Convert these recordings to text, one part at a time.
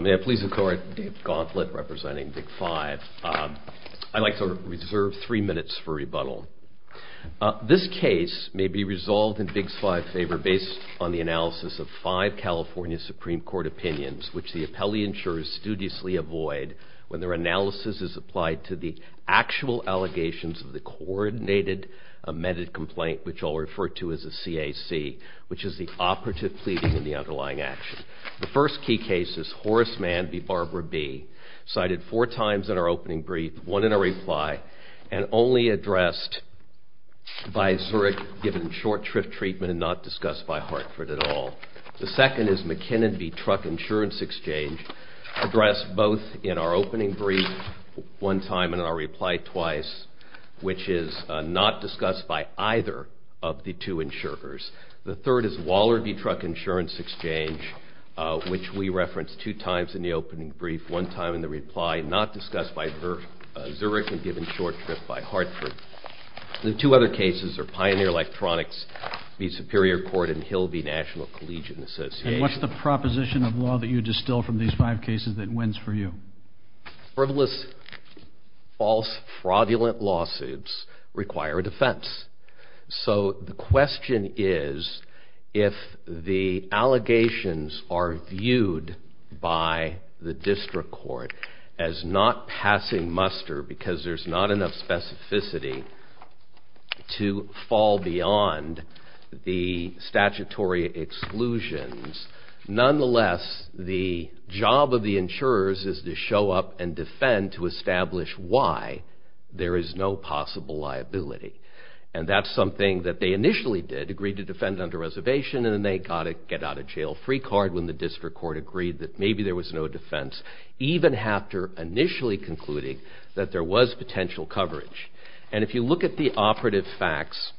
May I please encourage Dave Gauntlett representing Big 5. I'd like to reserve three minutes for rebuttal. This case may be resolved in Big 5's favor based on the analysis of five California Supreme Court opinions which the appellee insurers studiously avoid when their analysis is applied to the actual allegations of the coordinated amended complaint, which I'll refer to as a CAC, which is the operative pleading and the underlying action. The first key case is Horace Mann v. Barbara Bee, cited four times in our opening brief, one in our reply, and only addressed by Zurich, given short-tripped treatment and not discussed by Hartford at all. The second is McKinnon v. Truck Insurance Exchange, addressed both in our opening brief one time and in our reply twice, which is not discussed by either of the two insurers. The third is Waller v. Truck Insurance Exchange, which we referenced two times in the opening brief, one time in the reply, not discussed by Zurich and given short-tripped by Hartford. The two other cases are Pioneer Electronics v. Superior Court and Hill v. National Collegian Association. And what's the proposition of law that you distill from these five cases that wins for you? Frivolous, false, fraudulent lawsuits require a defense. So the question is if the allegations are viewed by the district court as not passing muster because there's not enough specificity to fall beyond the statutory exclusions, nonetheless the job of the insurers is to show up and defend to establish why there is no possible liability. And that's something that they initially did, agreed to defend under reservation and then they got a get-out-of-jail-free card when the district court agreed that maybe there was no defense, even after initially concluding that there was potential coverage. And if you look at the operative facts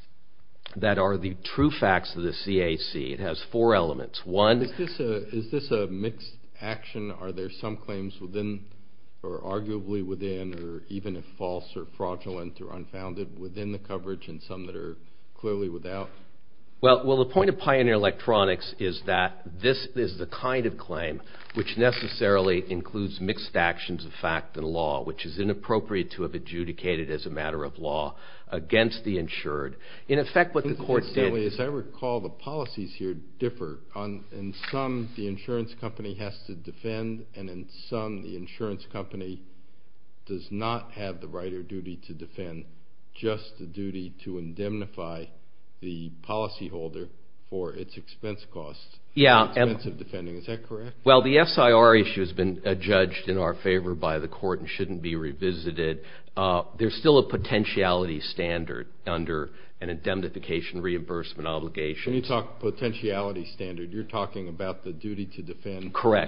that are the true facts of the CAC, it has four elements. One... Is this a mixed action? Are there some claims within or arguably within or even if false or fraudulent or unfounded within the coverage and some that are clearly without? Well, the point of Pioneer Electronics is that this is the kind of claim which necessarily includes mixed actions of fact and law, which is inappropriate to have adjudicated as a matter of law against the insured. In effect what the court did... the insurance company does not have the right or duty to defend, just the duty to indemnify the policyholder for its expense costs. Expensive defending, is that correct? Well, the SIR issue has been judged in our favor by the court and shouldn't be revisited. There's still a potentiality standard under an indemnification reimbursement obligation. When you talk potentiality standard, you're talking about the duty to defend... Well,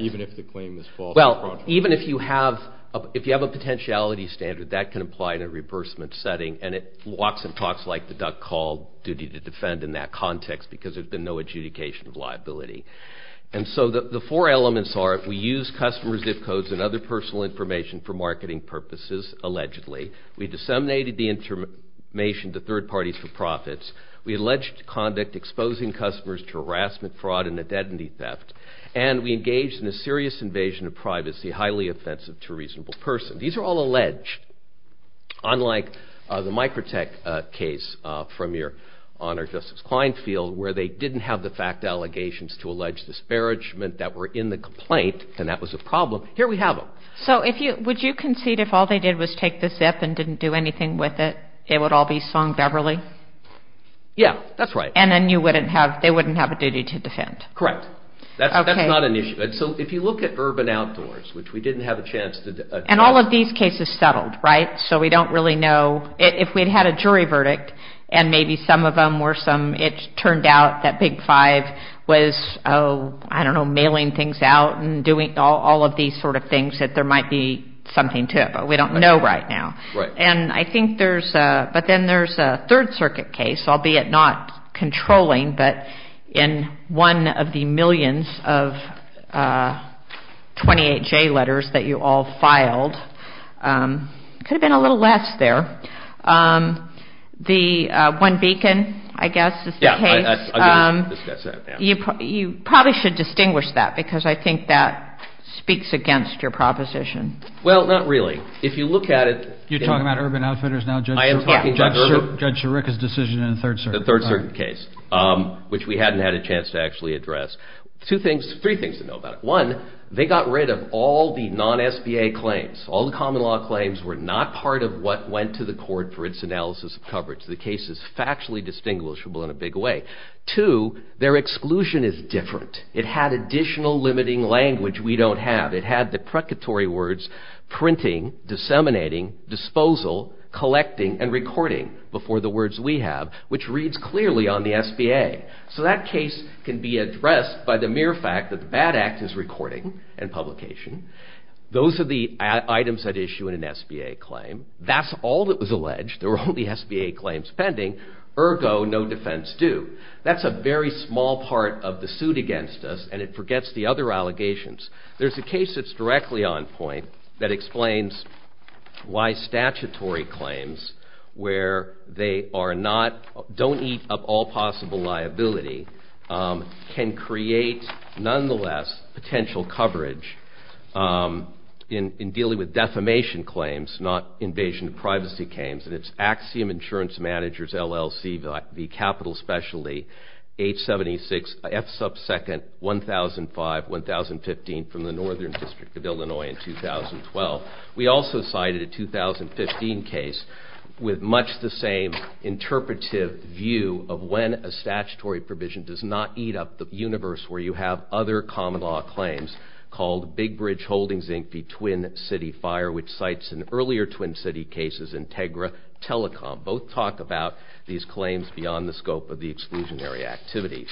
even if you have a potentiality standard, that can apply in a reimbursement setting and it walks and talks like the duck call duty to defend in that context because there's been no adjudication of liability. And so the four elements are we use customer zip codes and other personal information for marketing purposes, allegedly. We disseminated the information to third parties for profits. We alleged conduct exposing customers to harassment, fraud, and identity theft. And we engaged in a serious invasion of privacy, highly offensive to a reasonable person. These are all alleged, unlike the Microtech case from your Honor, Justice Kleinfeld, where they didn't have the fact allegations to allege disparagement that were in the complaint and that was a problem. Here we have them. So would you concede if all they did was take the zip and didn't do anything with it, it would all be sung Beverly? Yeah, that's right. And then they wouldn't have a duty to defend? Correct. That's not an issue. So if you look at Urban Outdoors, which we didn't have a chance to address. And all of these cases settled, right? So we don't really know. If we'd had a jury verdict and maybe some of them were some, it turned out that Big Five was, I don't know, mailing things out and doing all of these sort of things that there might be something to it, but we don't know right now. And I think there's a, but then there's a Third Circuit case, albeit not controlling, but in one of the millions of 28J letters that you all filed. Could have been a little less there. The One Beacon, I guess, is the case. Yeah, I'll discuss that. You probably should distinguish that because I think that speaks against your proposition. Well, not really. If you look at it. I am talking about Urban. Judge Chirica's decision in the Third Circuit. The Third Circuit case, which we hadn't had a chance to actually address. Two things, three things to know about it. One, they got rid of all the non-SBA claims. All the common law claims were not part of what went to the court for its analysis of coverage. The case is factually distinguishable in a big way. Two, their exclusion is different. It had additional limiting language we don't have. It had the precatory words printing, disseminating, disposal, collecting, and recording before the words we have, which reads clearly on the SBA. So that case can be addressed by the mere fact that the BAD Act is recording and publication. Those are the items at issue in an SBA claim. That's all that was alleged. There were only SBA claims pending. Ergo, no defense due. That's a very small part of the suit against us, and it forgets the other allegations. There's a case that's directly on point that explains why statutory claims, where they don't eat up all possible liability, can create, nonetheless, potential coverage in dealing with defamation claims, not invasion of privacy claims. And it's Axiom Insurance Managers, LLC, the capital specialty, H-76, F-sub-second, 1005, 1015 from the Northern District of Illinois in 2012. We also cited a 2015 case with much the same interpretive view of when a statutory provision does not eat up the universe where you have other common law claims called Big Bridge Holdings Inc. v. Twin City Fire, which cites in earlier Twin City cases Integra Telecom. Both talk about these claims beyond the scope of the exclusionary activities.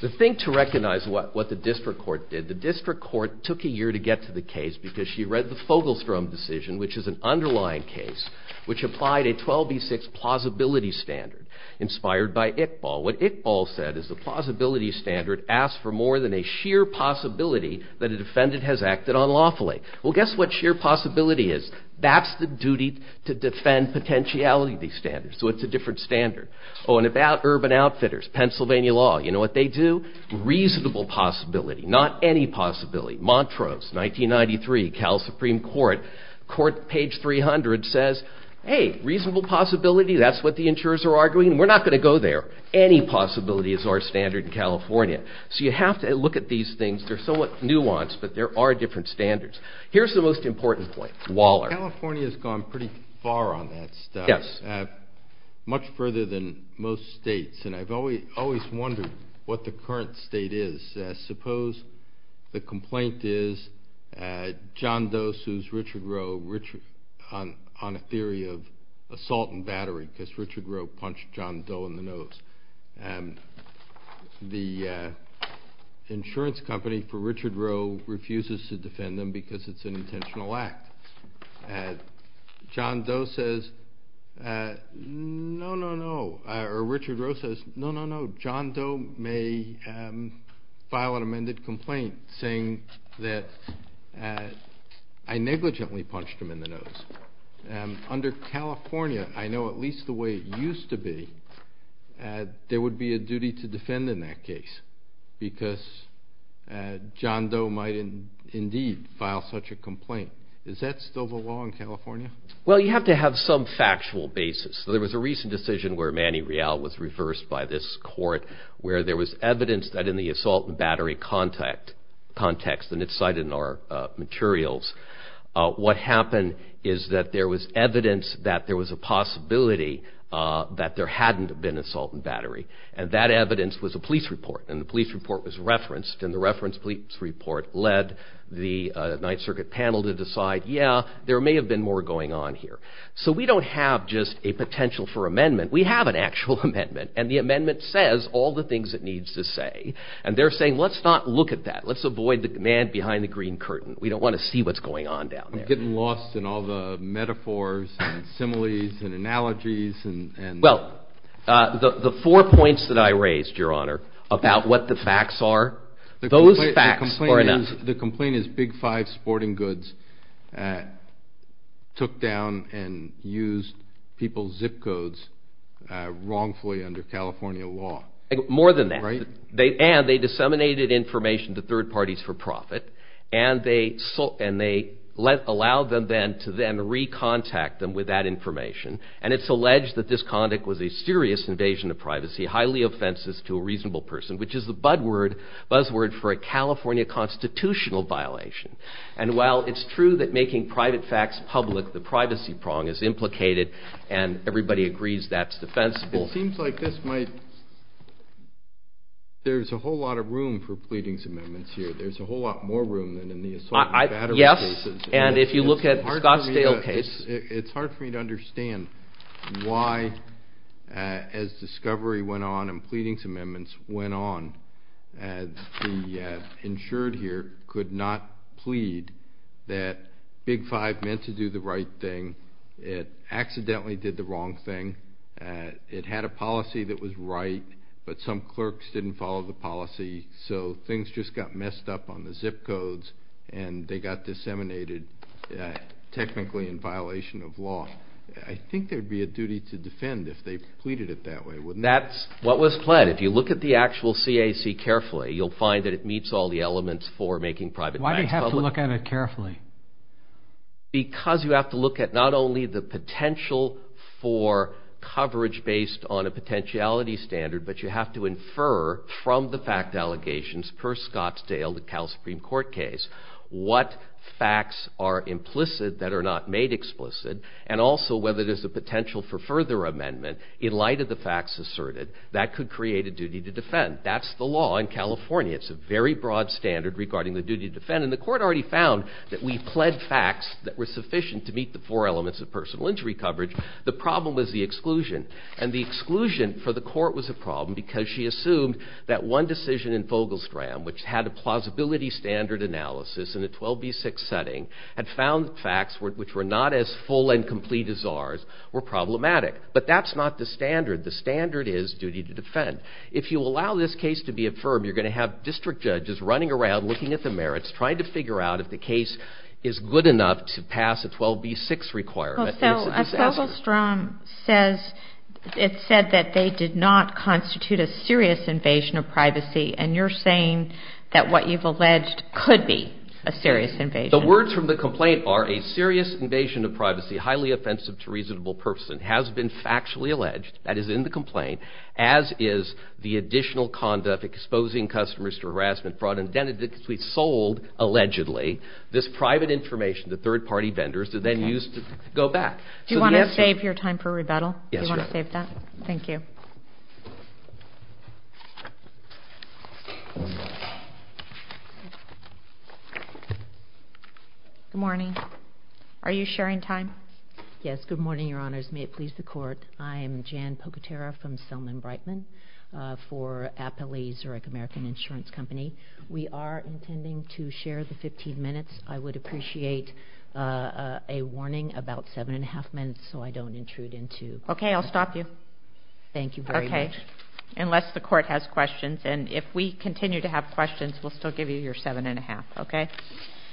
The thing to recognize what the district court did, the district court took a year to get to the case because she read the Fogelstrom decision, which is an underlying case which applied a 12B6 plausibility standard inspired by Iqbal. What Iqbal said is the plausibility standard asked for more than a sheer possibility that a defendant has acted unlawfully. Well, guess what sheer possibility is? That's the duty to defend potentiality of these standards, so it's a different standard. Oh, and about urban outfitters, Pennsylvania law, you know what they do? Reasonable possibility, not any possibility. Montrose, 1993, Cal Supreme Court, court page 300 says, hey, reasonable possibility, that's what the insurers are arguing, we're not going to go there. Any possibility is our standard in California. So you have to look at these things, they're somewhat nuanced, but there are different standards. Here's the most important point, Waller. California has gone pretty far on that stuff, much further than most states, and I've always wondered what the current state is. Suppose the complaint is John Doe sues Richard Rowe on a theory of assault and battery because Richard Rowe punched John Doe in the nose. The insurance company for Richard Rowe refuses to defend him because it's an intentional act. John Doe says, no, no, no, or Richard Rowe says, no, no, no, John Doe may file an amended complaint saying that I negligently punched him in the nose. Under California, I know at least the way it used to be, there would be a duty to defend in that case because John Doe might indeed file such a complaint. Is that still the law in California? Well, you have to have some factual basis. There was a recent decision where Manny Real was reversed by this court where there was evidence that in the assault and battery context, and it's cited in our materials, what happened is that there was evidence that there was a possibility that there hadn't been an assault and battery and that evidence was a police report and the police report was referenced and the reference police report led the Ninth Circuit panel to decide, yeah, there may have been more going on here. So we don't have just a potential for amendment. We have an actual amendment and the amendment says all the things it needs to say and they're saying, let's not look at that. Let's avoid the man behind the green curtain. We don't want to see what's going on down there. I'm getting lost in all the metaphors and similes and analogies. Well, the four points that I raised, Your Honor, about what the facts are, those facts are enough. The complaint is Big Five Sporting Goods took down and used people's zip codes wrongfully under California law. More than that. And they disseminated information to third parties for profit and they allowed them then to then re-contact them with that information and it's alleged that this conduct was a serious invasion of privacy, highly offensive to a reasonable person, which is the buzzword for a California constitutional violation. And while it's true that making private facts public, the privacy prong is implicated and everybody agrees that's defensible. It seems like there's a whole lot of room for pleadings amendments here. There's a whole lot more room than in the assault and battery cases. Yes, and if you look at Scottsdale case. It's hard for me to understand why, as discovery went on and pleadings amendments went on, the insured here could not plead that Big Five meant to do the right thing. It accidentally did the wrong thing. It had a policy that was right, but some clerks didn't follow the policy, so things just got messed up on the zip codes and they got disseminated technically in violation of law. I think there'd be a duty to defend if they pleaded it that way, wouldn't there? That's what was planned. If you look at the actual CAC carefully, you'll find that it meets all the elements for making private facts public. Why do you have to look at it carefully? Because you have to look at not only the potential for coverage based on a potentiality standard, but you have to infer from the fact allegations per Scottsdale, the Cal Supreme Court case, what facts are implicit that are not made explicit, and also whether there's a potential for further amendment in light of the facts asserted. That could create a duty to defend. That's the law in California. It's a very broad standard regarding the duty to defend, and the court already found that we pled facts that were sufficient to meet the four elements of personal injury coverage. The problem is the exclusion, and the exclusion for the court was a problem because she assumed that one decision in Vogelstram, which had a plausibility standard analysis in a 12b6 setting, had found facts which were not as full and complete as ours were problematic. But that's not the standard. The standard is duty to defend. If you allow this case to be affirmed, you're going to have district judges running around looking at the merits, trying to figure out if the case is good enough to pass a 12b6 requirement. Well, so Vogelstram says it said that they did not constitute a serious invasion of privacy, and you're saying that what you've alleged could be a serious invasion. The words from the complaint are a serious invasion of privacy, highly offensive to reasonable purposes, and has been factually alleged. That is in the complaint, as is the additional conduct exposing customers to harassment, fraud, and dendritics to be sold allegedly. This private information, the third-party vendors, are then used to go back. Do you want to save your time for rebuttal? Yes, Your Honor. Do you want to save that? Thank you. Good morning. Are you sharing time? Yes, good morning, Your Honors. May it please the court, I am Jan Pocatero from Selman-Brightman for Appalachia-Zurich American Insurance Company. We are intending to share the 15 minutes. I would appreciate a warning about 7 1⁄2 minutes so I don't intrude into— Okay, I'll stop you. Thank you very much. Okay. Unless the court has questions, and if we continue to have questions, we'll still give you your 7 1⁄2, okay?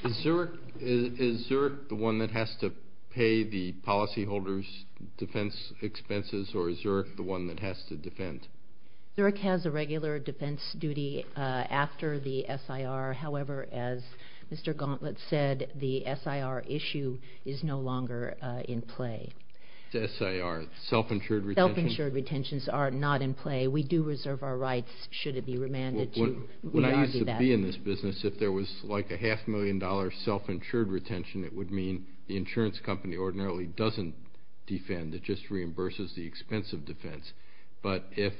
Is Zurich the one that has to pay the policyholders' defense expenses, or is Zurich the one that has to defend? Zurich has a regular defense duty after the SIR. However, as Mr. Gauntlet said, the SIR issue is no longer in play. It's SIR, self-insured retention? Self-insured retentions are not in play. We do reserve our rights, should it be remanded to. When I used to be in this business, if there was like a half-million-dollar self-insured retention, it would mean the insurance company ordinarily doesn't defend. It just reimburses the expense of defense. But if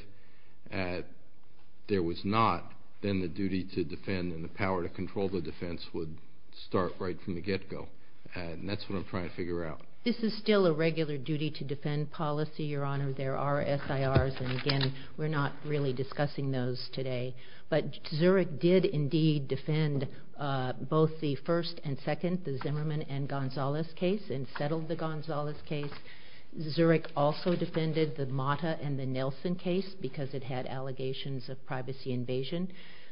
there was not, then the duty to defend and the power to control the defense would start right from the get-go. And that's what I'm trying to figure out. This is still a regular duty-to-defend policy, Your Honor. There are SIRs, and again, we're not really discussing those today. But Zurich did indeed defend both the first and second, the Zimmerman and Gonzalez case, and settled the Gonzalez case. Zurich also defended the Mata and the Nelson case because it had allegations of privacy invasion,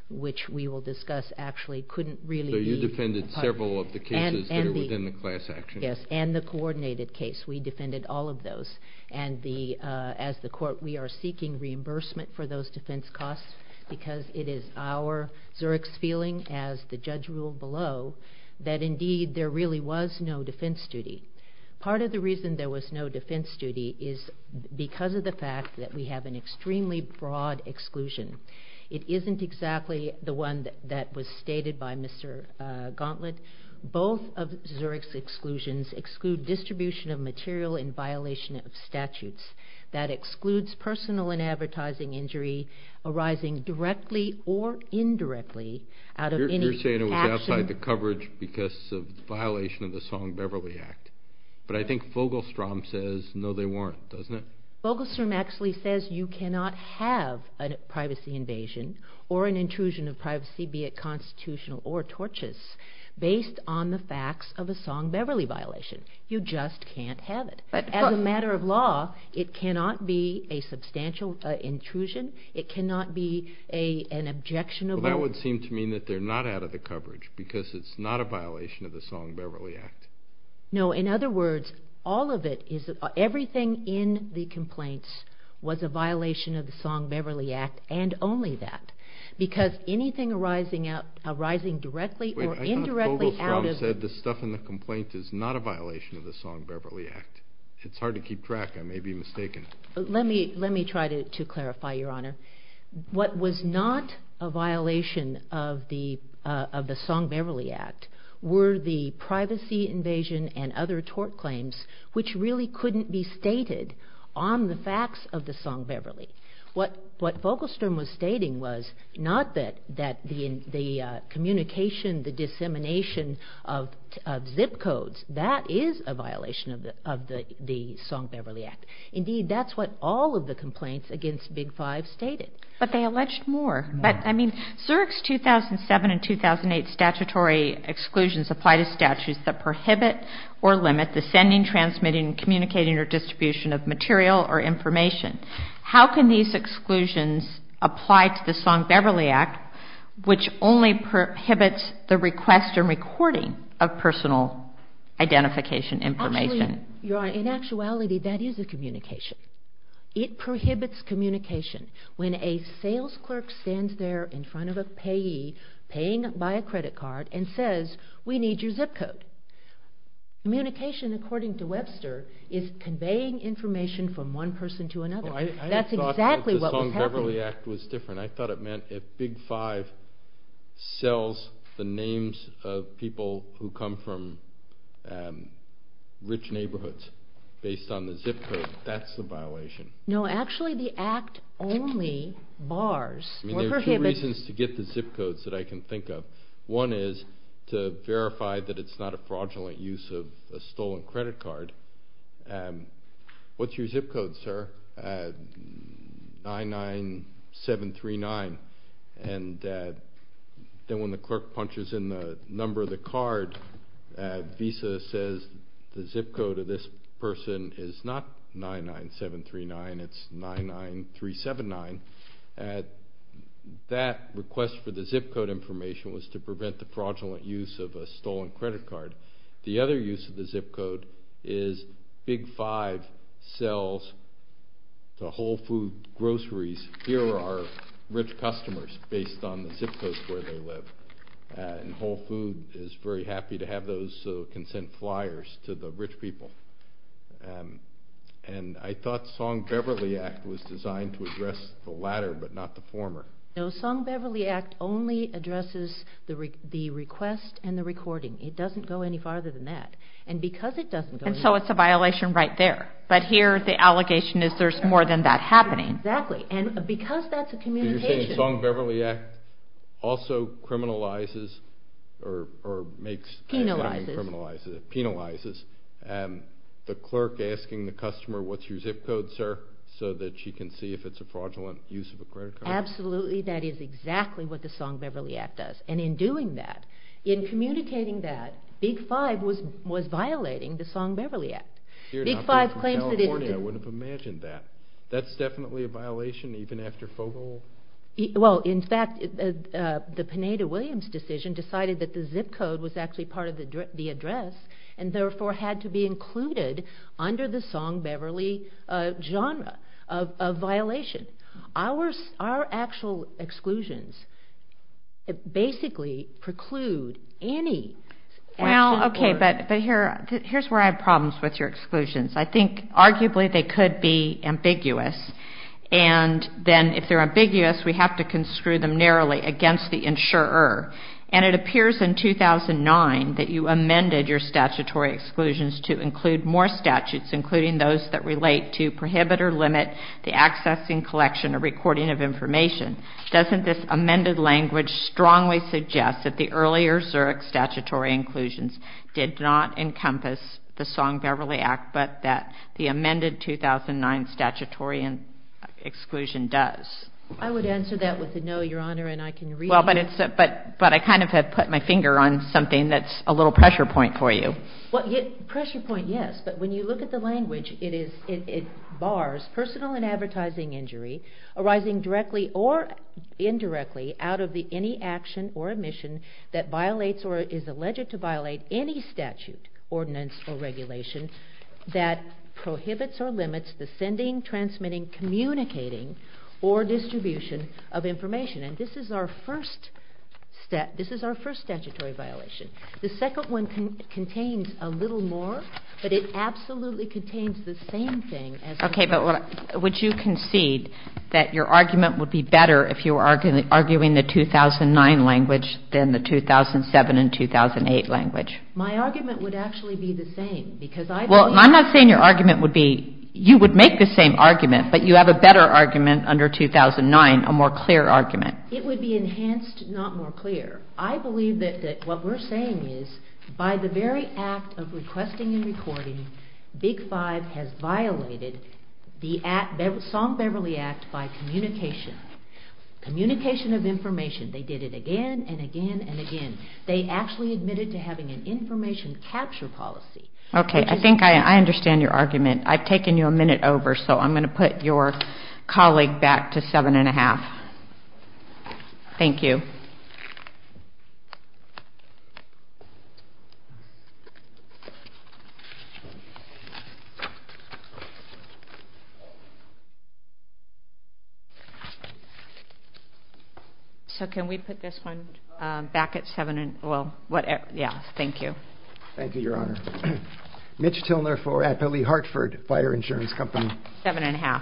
which we will discuss actually couldn't really be... So you defended several of the cases that are within the class action. Yes, and the coordinated case. We defended all of those. And as the court, we are seeking reimbursement for those defense costs because it is our, Zurich's feeling, as the judge ruled below, that indeed there really was no defense duty. Part of the reason there was no defense duty is because of the fact that we have an extremely broad exclusion. It isn't exactly the one that was stated by Mr. Gauntlet. Both of Zurich's exclusions exclude distribution of material in violation of statutes. That excludes personal and advertising injury arising directly or indirectly out of any action... But I think Vogelstrom says, no, they weren't, doesn't it? Vogelstrom actually says you cannot have a privacy invasion or an intrusion of privacy, be it constitutional or tortious, based on the facts of a Song-Beverly violation. You just can't have it. As a matter of law, it cannot be a substantial intrusion. It cannot be an objectionable... That would seem to me that they're not out of the coverage because it's not a violation of the Song-Beverly Act. No, in other words, all of it, everything in the complaints was a violation of the Song-Beverly Act and only that because anything arising directly or indirectly out of... Wait, I thought Vogelstrom said the stuff in the complaint is not a violation of the Song-Beverly Act. It's hard to keep track. I may be mistaken. Let me try to clarify, Your Honor. What was not a violation of the Song-Beverly Act were the privacy invasion and other tort claims, which really couldn't be stated on the facts of the Song-Beverly. What Vogelstrom was stating was not that the communication, the dissemination of zip codes, that is a violation of the Song-Beverly Act. Indeed, that's what all of the complaints against Big Five stated. But they alleged more. Zurich's 2007 and 2008 statutory exclusions apply to statutes that prohibit or limit the sending, transmitting, communicating, or distribution of material or information. How can these exclusions apply to the Song-Beverly Act, which only prohibits the request or recording of personal identification information? Actually, Your Honor, in actuality, that is a communication. It prohibits communication. When a sales clerk stands there in front of a payee, paying by a credit card, and says, We need your zip code. Communication, according to Webster, is conveying information from one person to another. That's exactly what was happening. I thought the Song-Beverly Act was different. I thought it meant if Big Five sells the names of people who come from rich neighborhoods based on the zip code, that's the violation. No, actually, the Act only bars or prohibits... There are two reasons to get the zip codes that I can think of. One is to verify that it's not a fraudulent use of a stolen credit card. What's your zip code, sir? 99739. And then when the clerk punches in the number of the card, Visa says the zip code of this person is not 99739. It's 99379. That request for the zip code information was to prevent the fraudulent use of a stolen credit card. The other use of the zip code is Big Five sells to Whole Foods groceries. Here are rich customers based on the zip codes where they live. And Whole Foods is very happy to have those consent flyers to the rich people. And I thought Song-Beverly Act was designed to address the latter but not the former. No, Song-Beverly Act only addresses the request and the recording. It doesn't go any farther than that. And because it doesn't go... And so it's a violation right there. But here the allegation is there's more than that happening. Exactly. And because that's a communication... So it criminalizes or makes... Penalizes. Penalizes. The clerk asking the customer, What's your zip code, sir? So that she can see if it's a fraudulent use of a credit card. Absolutely. That is exactly what the Song-Beverly Act does. And in doing that, in communicating that, Big Five was violating the Song-Beverly Act. Big Five claims that it... I wouldn't have imagined that. That's definitely a violation even after Fogel? Well, in fact, the Pineda-Williams decision decided that the zip code was actually part of the address and therefore had to be included under the Song-Beverly genre of violation. Our actual exclusions basically preclude any... Well, okay. But here's where I have problems with your exclusions. I think arguably they could be ambiguous. And then if they're ambiguous, we have to construe them narrowly against the insurer. And it appears in 2009 that you amended your statutory exclusions to include more statutes, including those that relate to prohibit or limit the accessing, collection, or recording of information. Doesn't this amended language strongly suggest that the earlier Zurich statutory inclusions did not encompass the Song-Beverly Act but that the amended 2009 statutory exclusion does? I would answer that with a no, Your Honor, and I can read it. But I kind of have put my finger on something that's a little pressure point for you. Pressure point, yes. But when you look at the language, it bars personal and advertising injury arising directly or indirectly out of any action or omission that violates or is alleged to violate any statute, ordinance, or regulation that prohibits or limits the sending, transmitting, communicating, or distribution of information. And this is our first statutory violation. The second one contains a little more, but it absolutely contains the same thing as... Okay, but would you concede that your argument would be better if you were arguing the 2009 language than the 2007 and 2008 language? My argument would actually be the same because I believe... Well, I'm not saying your argument would be... You would make the same argument, but you have a better argument under 2009, a more clear argument. It would be enhanced, not more clear. I believe that what we're saying is by the very act of requesting and recording, Big Five has violated the Song-Beverly Act by communication. Communication of information. They did it again and again and again. They actually admitted to having an information capture policy. Okay, I think I understand your argument. I've taken you a minute over, so I'm going to put your colleague back to seven and a half. Thank you. So can we put this one back at seven and... Well, yeah, thank you. Thank you, Your Honor. Mitch Tilner for... at Billy Hartford Fire Insurance Company. Seven and a half.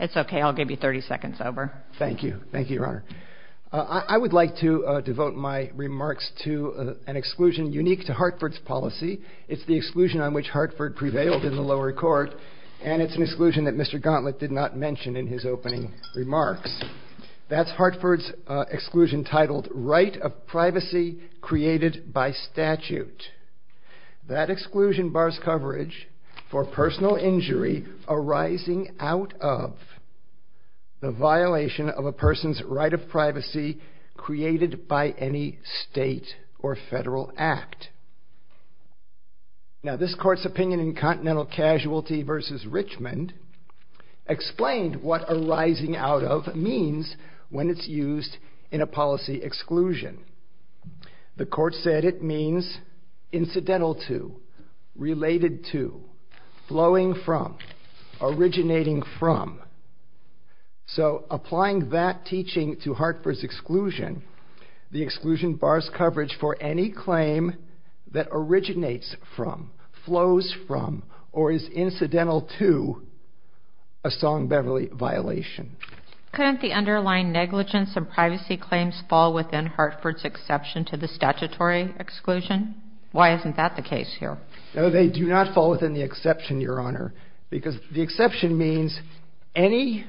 It's okay, I'll give you 30 seconds over. Thank you. Thank you, Your Honor. I would like to devote my remarks to an exclusion unique to Hartford's policy. It's the exclusion on which Hartford prevailed in the lower court, and it's an exclusion that Mr. Gauntlet did not mention in his opening remarks. That's Hartford's exclusion titled Right of Privacy Created by Statute. That exclusion bars coverage for personal injury arising out of the violation of a person's right of privacy created by any state or federal act. Now, this court's opinion in Continental Casualty v. Richmond explained what arising out of means when it's used in a policy exclusion. The court said it means incidental to, related to, flowing from, originating from. So applying that teaching to Hartford's exclusion, the exclusion bars coverage for any claim that originates from, flows from, or is incidental to a Song-Beverly violation. Couldn't the underlying negligence and privacy claims fall within Hartford's exception to the statutory exclusion? Why isn't that the case here? No, they do not fall within the exception, Your Honor, because the exception means any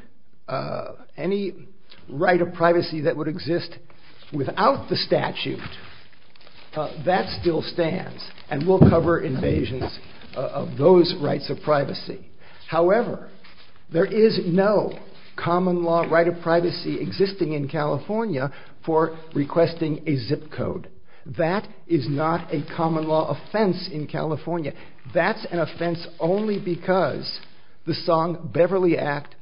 right of privacy that would exist without the statute, that still stands and will cover invasions of those rights of privacy. However, there is no common law right of privacy existing in California for requesting a zip code. That is not a common law offense in California. That's an offense only because the Song-Beverly Act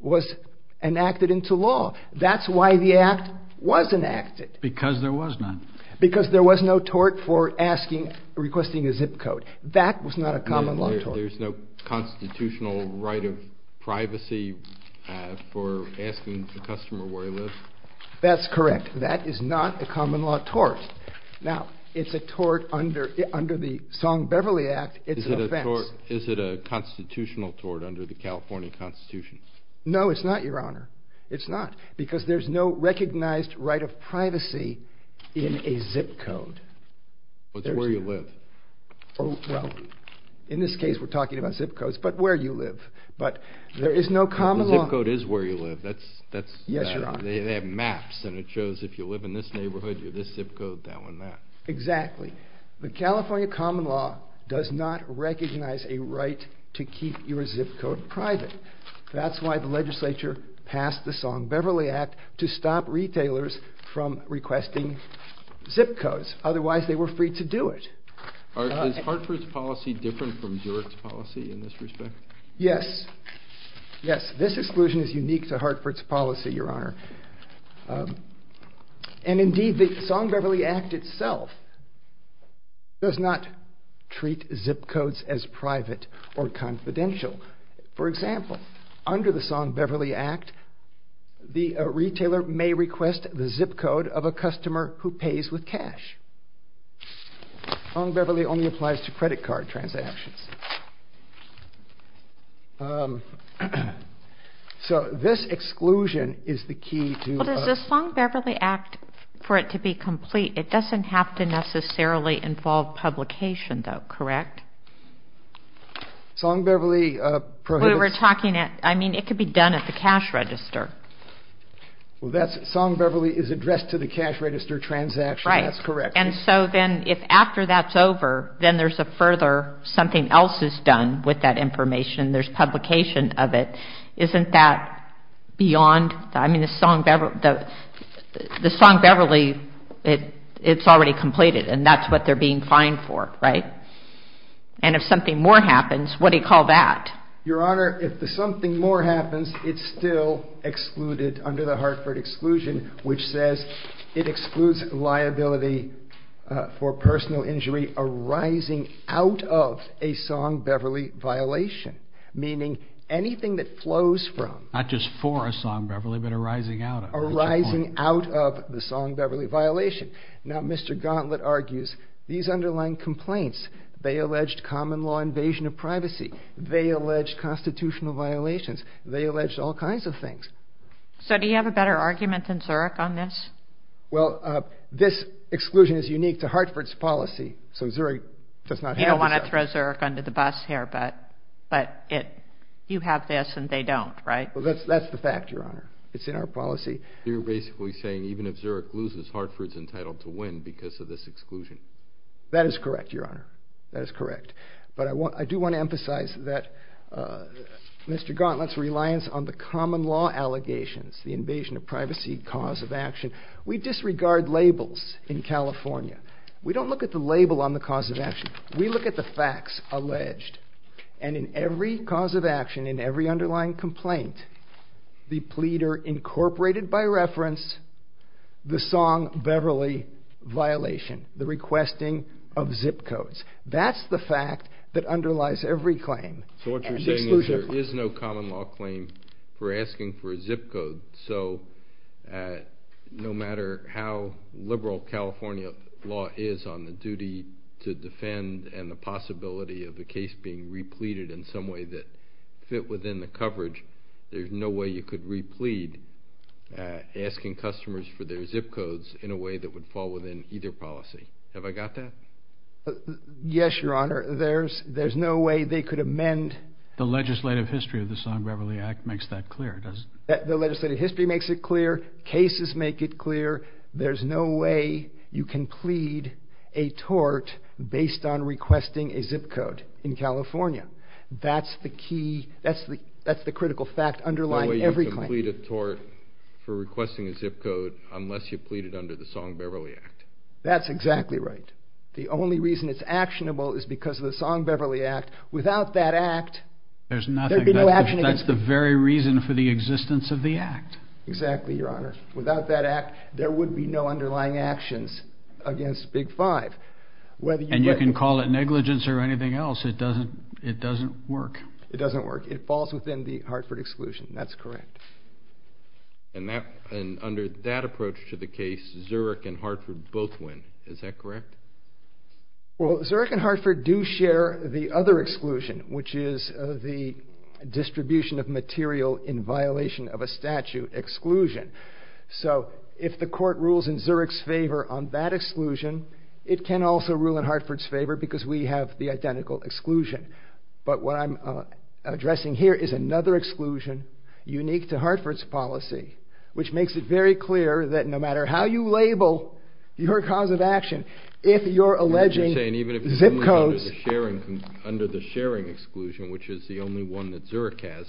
was enacted into law. That's why the act was enacted. Because there was none. Because there was no tort for asking, requesting a zip code. There's no constitutional right of privacy for asking the customer where he lives? That's correct. That is not a common law tort. Now, it's a tort under the Song-Beverly Act. It's an offense. Is it a constitutional tort under the California Constitution? No, it's not, Your Honor. It's not. Because there's no recognized right of privacy in a zip code. Well, it's where you live. Well, in this case we're talking about zip codes, but where you live. But there is no common law... The zip code is where you live. Yes, Your Honor. They have maps, and it shows if you live in this neighborhood, you're this zip code, that one, that. Exactly. The California common law does not recognize a right to keep your zip code private. That's why the legislature passed the Song-Beverly Act to stop retailers from requesting zip codes. Otherwise, they were free to do it. Is Hartford's policy different from Durex's policy in this respect? Yes. Yes. This exclusion is unique to Hartford's policy, Your Honor. And indeed, the Song-Beverly Act itself does not treat zip codes as private or confidential. For example, under the Song-Beverly Act, the retailer may request the zip code of a customer who pays with cash. Song-Beverly only applies to credit card transactions. So this exclusion is the key to... Well, does the Song-Beverly Act, for it to be complete, it doesn't have to necessarily involve publication, though, correct? Song-Beverly prohibits... We were talking... I mean, it could be done at the cash register. Well, that's... Song-Beverly is addressed to the cash register transaction. That's correct. And so then, if after that's over, then there's a further... Something else is done with that information. There's publication of it. Isn't that beyond... I mean, the Song-Beverly, it's already completed, and that's what they're being fined for, right? And if something more happens, what do you call that? Your Honor, if the something more happens, it's still excluded under the Hartford exclusion, which says it excludes liability for personal injury arising out of a Song-Beverly violation, meaning anything that flows from... Not just for a Song-Beverly, but arising out of. Arising out of the Song-Beverly violation. Now, Mr. Gauntlet argues these underlying complaints, they alleged common law invasion of privacy, they alleged constitutional violations, they alleged all kinds of things. So do you have a better argument than Zurich on this? Well, this exclusion is unique to Hartford's policy, so Zurich does not have this. You don't want to throw Zurich under the bus here, but you have this and they don't, right? Well, that's the fact, Your Honor. It's in our policy. You're basically saying even if Zurich loses, Hartford's entitled to win because of this exclusion. That is correct, Your Honor. That is correct. But I do want to emphasize that Mr. Gauntlet's reliance on the common law allegations, the invasion of privacy cause of action, we disregard labels in California. We don't look at the label on the cause of action. We look at the facts alleged. And in every cause of action, in every underlying complaint, the pleader incorporated by reference the Song-Beverly violation, the requesting of zip codes. That's the fact that underlies every claim. So what you're saying is there is no common law claim for asking for a zip code, so no matter how liberal California law is on the duty to defend and the possibility of the case being repleted in some way that fit within the coverage, there's no way you could replete asking customers for their zip codes in a way that would fall within either policy. Have I got that? Yes, Your Honor. There's no way they could amend... The legislative history of the Song-Beverly Act makes that clear, doesn't it? The legislative history makes it clear. Cases make it clear. There's no way you can plead a tort based on requesting a zip code in California. That's the critical fact underlying every claim. No way you can plead a tort for requesting a zip code unless you plead it under the Song-Beverly Act. That's exactly right. The only reason it's actionable is because of the Song-Beverly Act. Without that act, there'd be no action against it. That's the very reason for the existence of the act. Exactly, Your Honor. Without that act, there would be no underlying actions against Big Five. And you can call it negligence or anything else. It doesn't work. It doesn't work. It falls within the Hartford exclusion. That's correct. And under that approach to the case, Zurich and Hartford both win. Is that correct? Well, Zurich and Hartford do share the other exclusion, which is the distribution of material in violation of a statute exclusion. So if the court rules in Zurich's favor on that exclusion, it can also rule in Hartford's favor because we have the identical exclusion. But what I'm addressing here is another exclusion unique to Hartford's policy, which makes it very clear that no matter how you label your cause of action, if you're alleging zip codes... You're saying even if it's only under the sharing exclusion, which is the only one that Zurich has,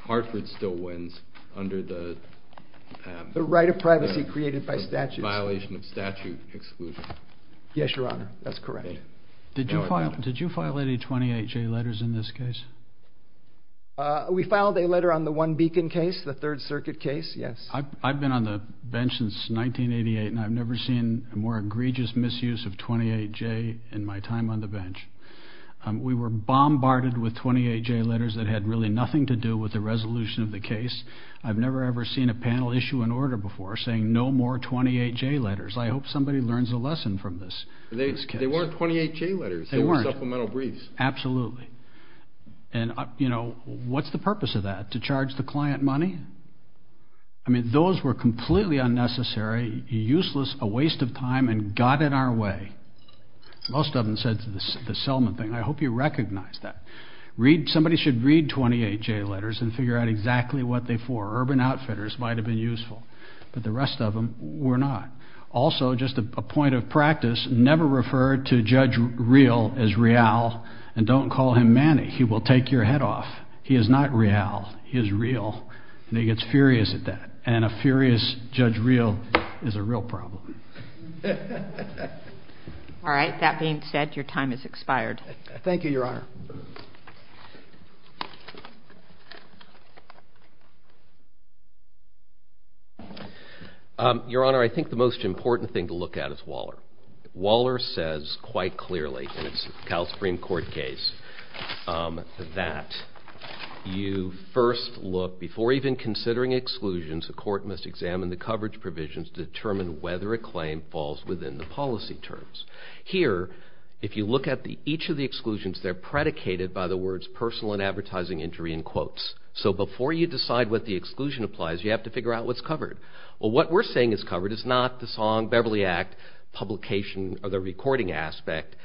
Hartford still wins under the... The right of privacy created by statute. The violation of statute exclusion. Yes, Your Honor. That's correct. Did you file any 28-J letters in this case? We filed a letter on the One Beacon case, the Third Circuit case, yes. I've been on the bench since 1988, and I've never seen a more egregious misuse of 28-J in my time on the bench. We were bombarded with 28-J letters that had really nothing to do with the resolution of the case. I've never ever seen a panel issue an order before saying no more 28-J letters. I hope somebody learns a lesson from this. They weren't 28-J letters. They were supplemental briefs. Absolutely. And, you know, what's the purpose of that? To charge the client money? I mean, those were completely unnecessary, useless, a waste of time, and got in our way. Most of them said the Selman thing. I hope you recognize that. Somebody should read 28-J letters and figure out exactly what they're for. Urban Outfitters might have been useful. But the rest of them were not. Also, just a point of practice, never refer to Judge Real as Real, and don't call him Manny. He will take your head off. He is not Real. He is real. And he gets furious at that. And a furious Judge Real is a real problem. All right. That being said, your time has expired. Thank you, Your Honor. Your Honor, I think the most important thing to look at is Waller. Waller says quite clearly in his Cal Supreme Court case that you first look, before even considering exclusions, the court must examine the coverage provisions to determine whether a claim falls within the policy terms. Here, if you look at each of the exclusions, they're predicated by the words personal and advertising injury in quotes. So before you decide what the exclusion applies, you have to figure out what's covered. Well, what we're saying is covered is not the Song-Beverly Act publication or the recording aspect.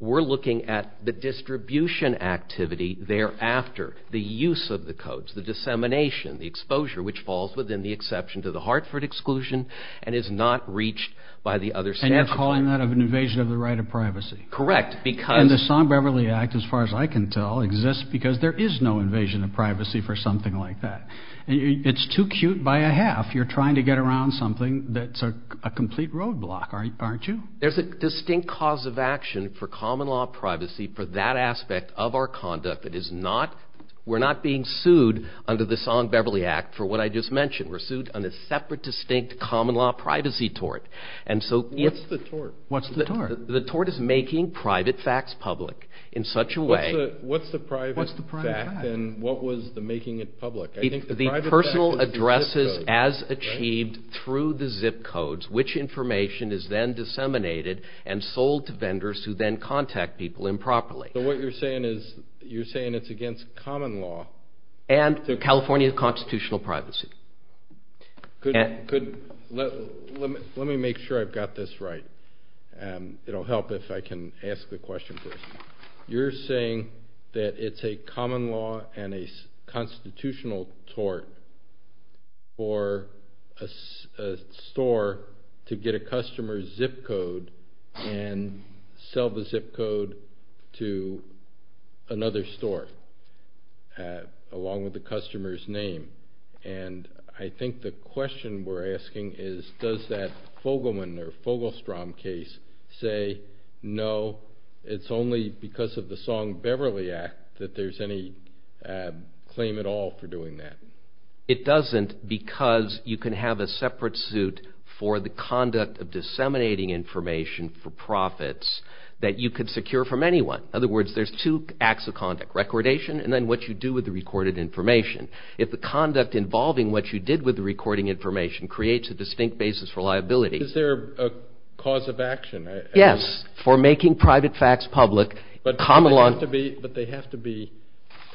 We're looking at the distribution activity thereafter, the use of the codes, the dissemination, the exposure, which falls within the exception to the Hartford exclusion and is not reached by the other statute. And you're calling that an invasion of the right of privacy. Correct, because... And the Song-Beverly Act, as far as I can tell, exists because there is no invasion of privacy for something like that. It's too cute by a half. You're trying to get around something that's a complete roadblock, aren't you? There's a distinct cause of action for common law privacy for that aspect of our conduct. It is not... We're not being sued under the Song-Beverly Act for what I just mentioned. We're sued on a separate, distinct common law privacy tort. And so... What's the tort? What's the tort? The tort is making private facts public in such a way... What's the private fact? And what was the making it public? The personal addresses as achieved through the zip codes, which information is then disseminated and sold to vendors who then contact people improperly. So what you're saying is... You're saying it's against common law. And California constitutional privacy. Could... Let me make sure I've got this right. It'll help if I can ask the question first. You're saying that it's a common law and a constitutional tort for a store to get a customer's zip code and sell the zip code to another store along with the customer's name. And I think the question we're asking is, does that Fogelman or Fogelstrom case say, no, it's only because of the Song-Beverly Act that there's any claim at all for doing that? It doesn't because you can have a separate suit for the conduct of disseminating information for profits that you could secure from anyone. In other words, there's two acts of conduct. Recordation and then what you do with the recorded information. If the conduct involving what you did with the recording information creates a distinct basis for liability... Is there a cause of action? Yes, for making private facts public, common law... But they have to be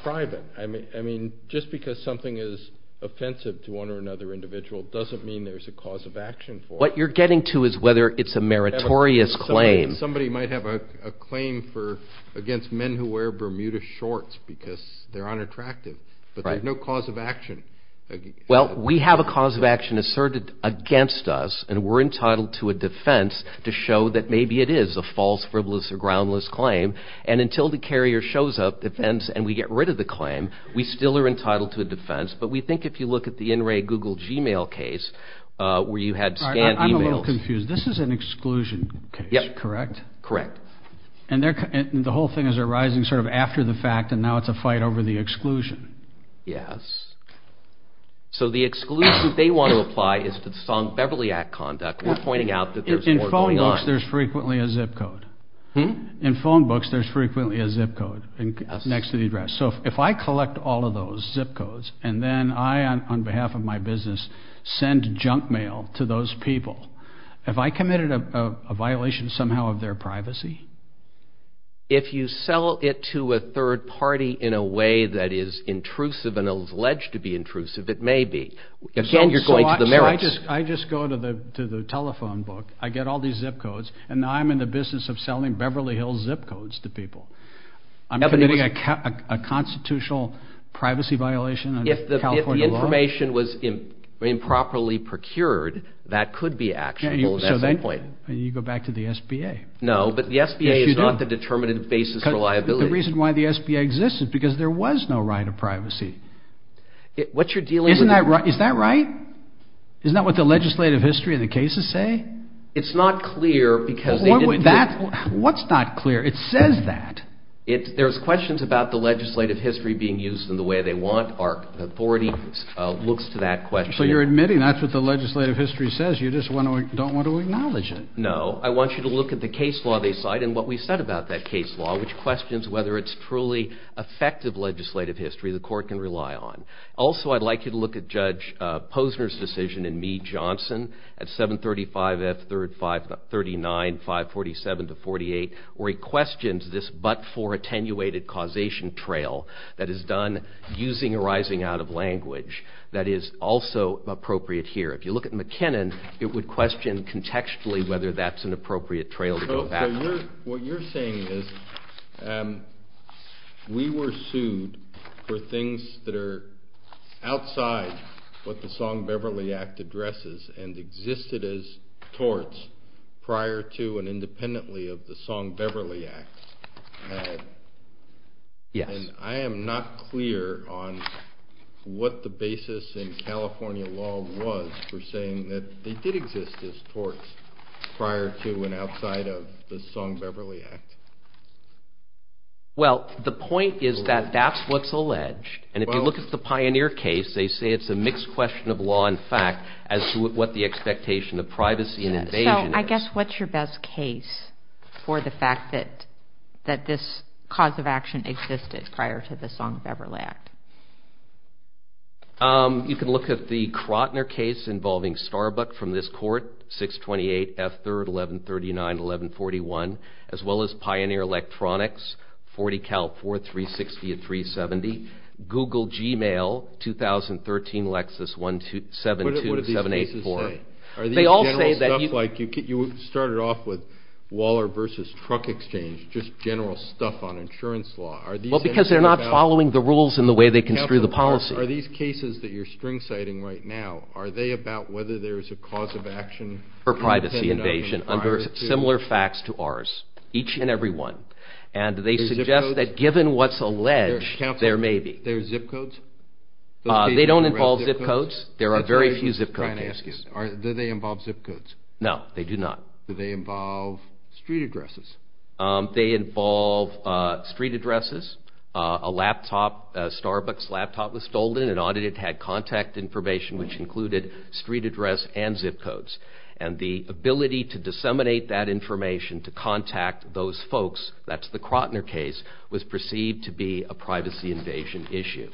private. I mean, just because something is offensive to one or another individual doesn't mean there's a cause of action for it. What you're getting to is whether it's a meritorious claim. Somebody might have a claim against men who wear Bermuda shorts because they're unattractive, but there's no cause of action. Well, we have a cause of action asserted against us and we're entitled to a defense to show that maybe it is a false, frivolous, or groundless claim. And until the carrier shows up, defends, and we get rid of the claim, we still are entitled to a defense. But we think if you look at the in-ray Google Gmail case where you had scanned emails... I'm a little confused. This is an exclusion case, correct? Correct. And the whole thing is arising sort of after the fact and now it's a fight over the exclusion. Yes. So the exclusion they want to apply is to the Song-Beverly Act conduct. We're pointing out that there's more going on. In phone books, there's frequently a zip code. In phone books, there's frequently a zip code next to the address. So if I collect all of those zip codes and then I, on behalf of my business, send junk mail to those people, have I committed a violation somehow of their privacy? If you sell it to a third party in a way that is intrusive and alleged to be intrusive, it may be. Again, you're going to the merits. I just go to the telephone book. I get all these zip codes and now I'm in the business of selling Beverly Hills zip codes to people. I'm committing a constitutional privacy violation under California law? If the information was improperly procured, that could be actionable at some point. So then you go back to the SBA. No, but the SBA is not the determinative basis for liability. The reason why the SBA exists is because there was no right of privacy. What you're dealing with... Is that right? Isn't that what the legislative history of the cases say? It's not clear because... What's not clear? It says that. There's questions about the legislative history being used in the way they want. Our authority looks to that question. So you're admitting that's what the legislative history says. You just don't want to acknowledge it. No. I want you to look at the case law they cite and what we said about that case law, which questions whether it's truly effective legislative history the court can rely on. Also, I'd like you to look at Judge Posner's decision in Meade-Johnson at 735 F. 39-547-48, where he questions this but-for attenuated causation trail that is done using arising out of language that is also appropriate here. If you look at McKinnon, it would question contextually whether that's an appropriate trail to go back on. What you're saying is we were sued for things that are outside what the Song-Beverly Act addresses and existed as torts prior to and independently of the Song-Beverly Act. I am not clear on what the basis in California law was for saying that they did exist as torts prior to and outside of the Song-Beverly Act. Well, the point is that that's what's alleged. And if you look at the Pioneer case, they say it's a mixed question of law and fact as to what the expectation of privacy and invasion is. So, I guess what's your best case for the fact that this cause of action existed prior to the Song-Beverly Act? You can look at the Krotner case involving Starbuck from this court, 628 F. 3rd, 1139-1141, as well as Pioneer Electronics, 40 Cal 4, 360 and 370, Google Gmail, 2013 Lexus 172784. What do these cases say? They all say that you... Are these general stuff like you started off with Waller versus truck exchange, just general stuff on insurance law? Well, because they're not following the rules in the way they construe the policy. Are these cases that you're string-citing right now, are they about whether there's a cause of action... for privacy invasion under similar facts to ours, each and every one. And they suggest that given what's alleged, there may be. There's zip codes? They don't involve zip codes. There are very few zip code cases. Do they involve zip codes? No, they do not. Do they involve street addresses? They involve street addresses. A laptop, a Starbucks laptop was stolen. It had contact information, which included street address and zip codes. And the ability to disseminate that information, to contact those folks, that's the Krotner case, was perceived to be a privacy invasion issue.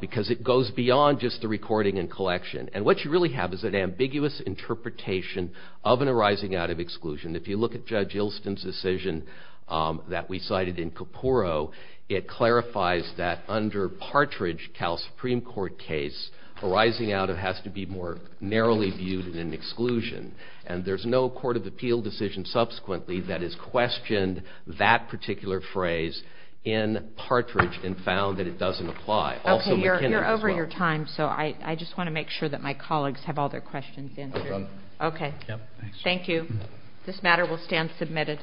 Because it goes beyond just the recording and collection. And what you really have is an ambiguous interpretation of an arising out of exclusion. If you look at Judge Ilston's decision that we cited in Kuporo, it clarifies that under Partridge, Cal Supreme Court case, arising out of has to be more narrowly viewed than exclusion. And there's no court of appeal decision subsequently that has questioned that particular phrase in Partridge and found that it doesn't apply. Okay, you're over your time, so I just want to make sure that my colleagues have all their questions answered. Okay, thank you. This matter will stand submitted.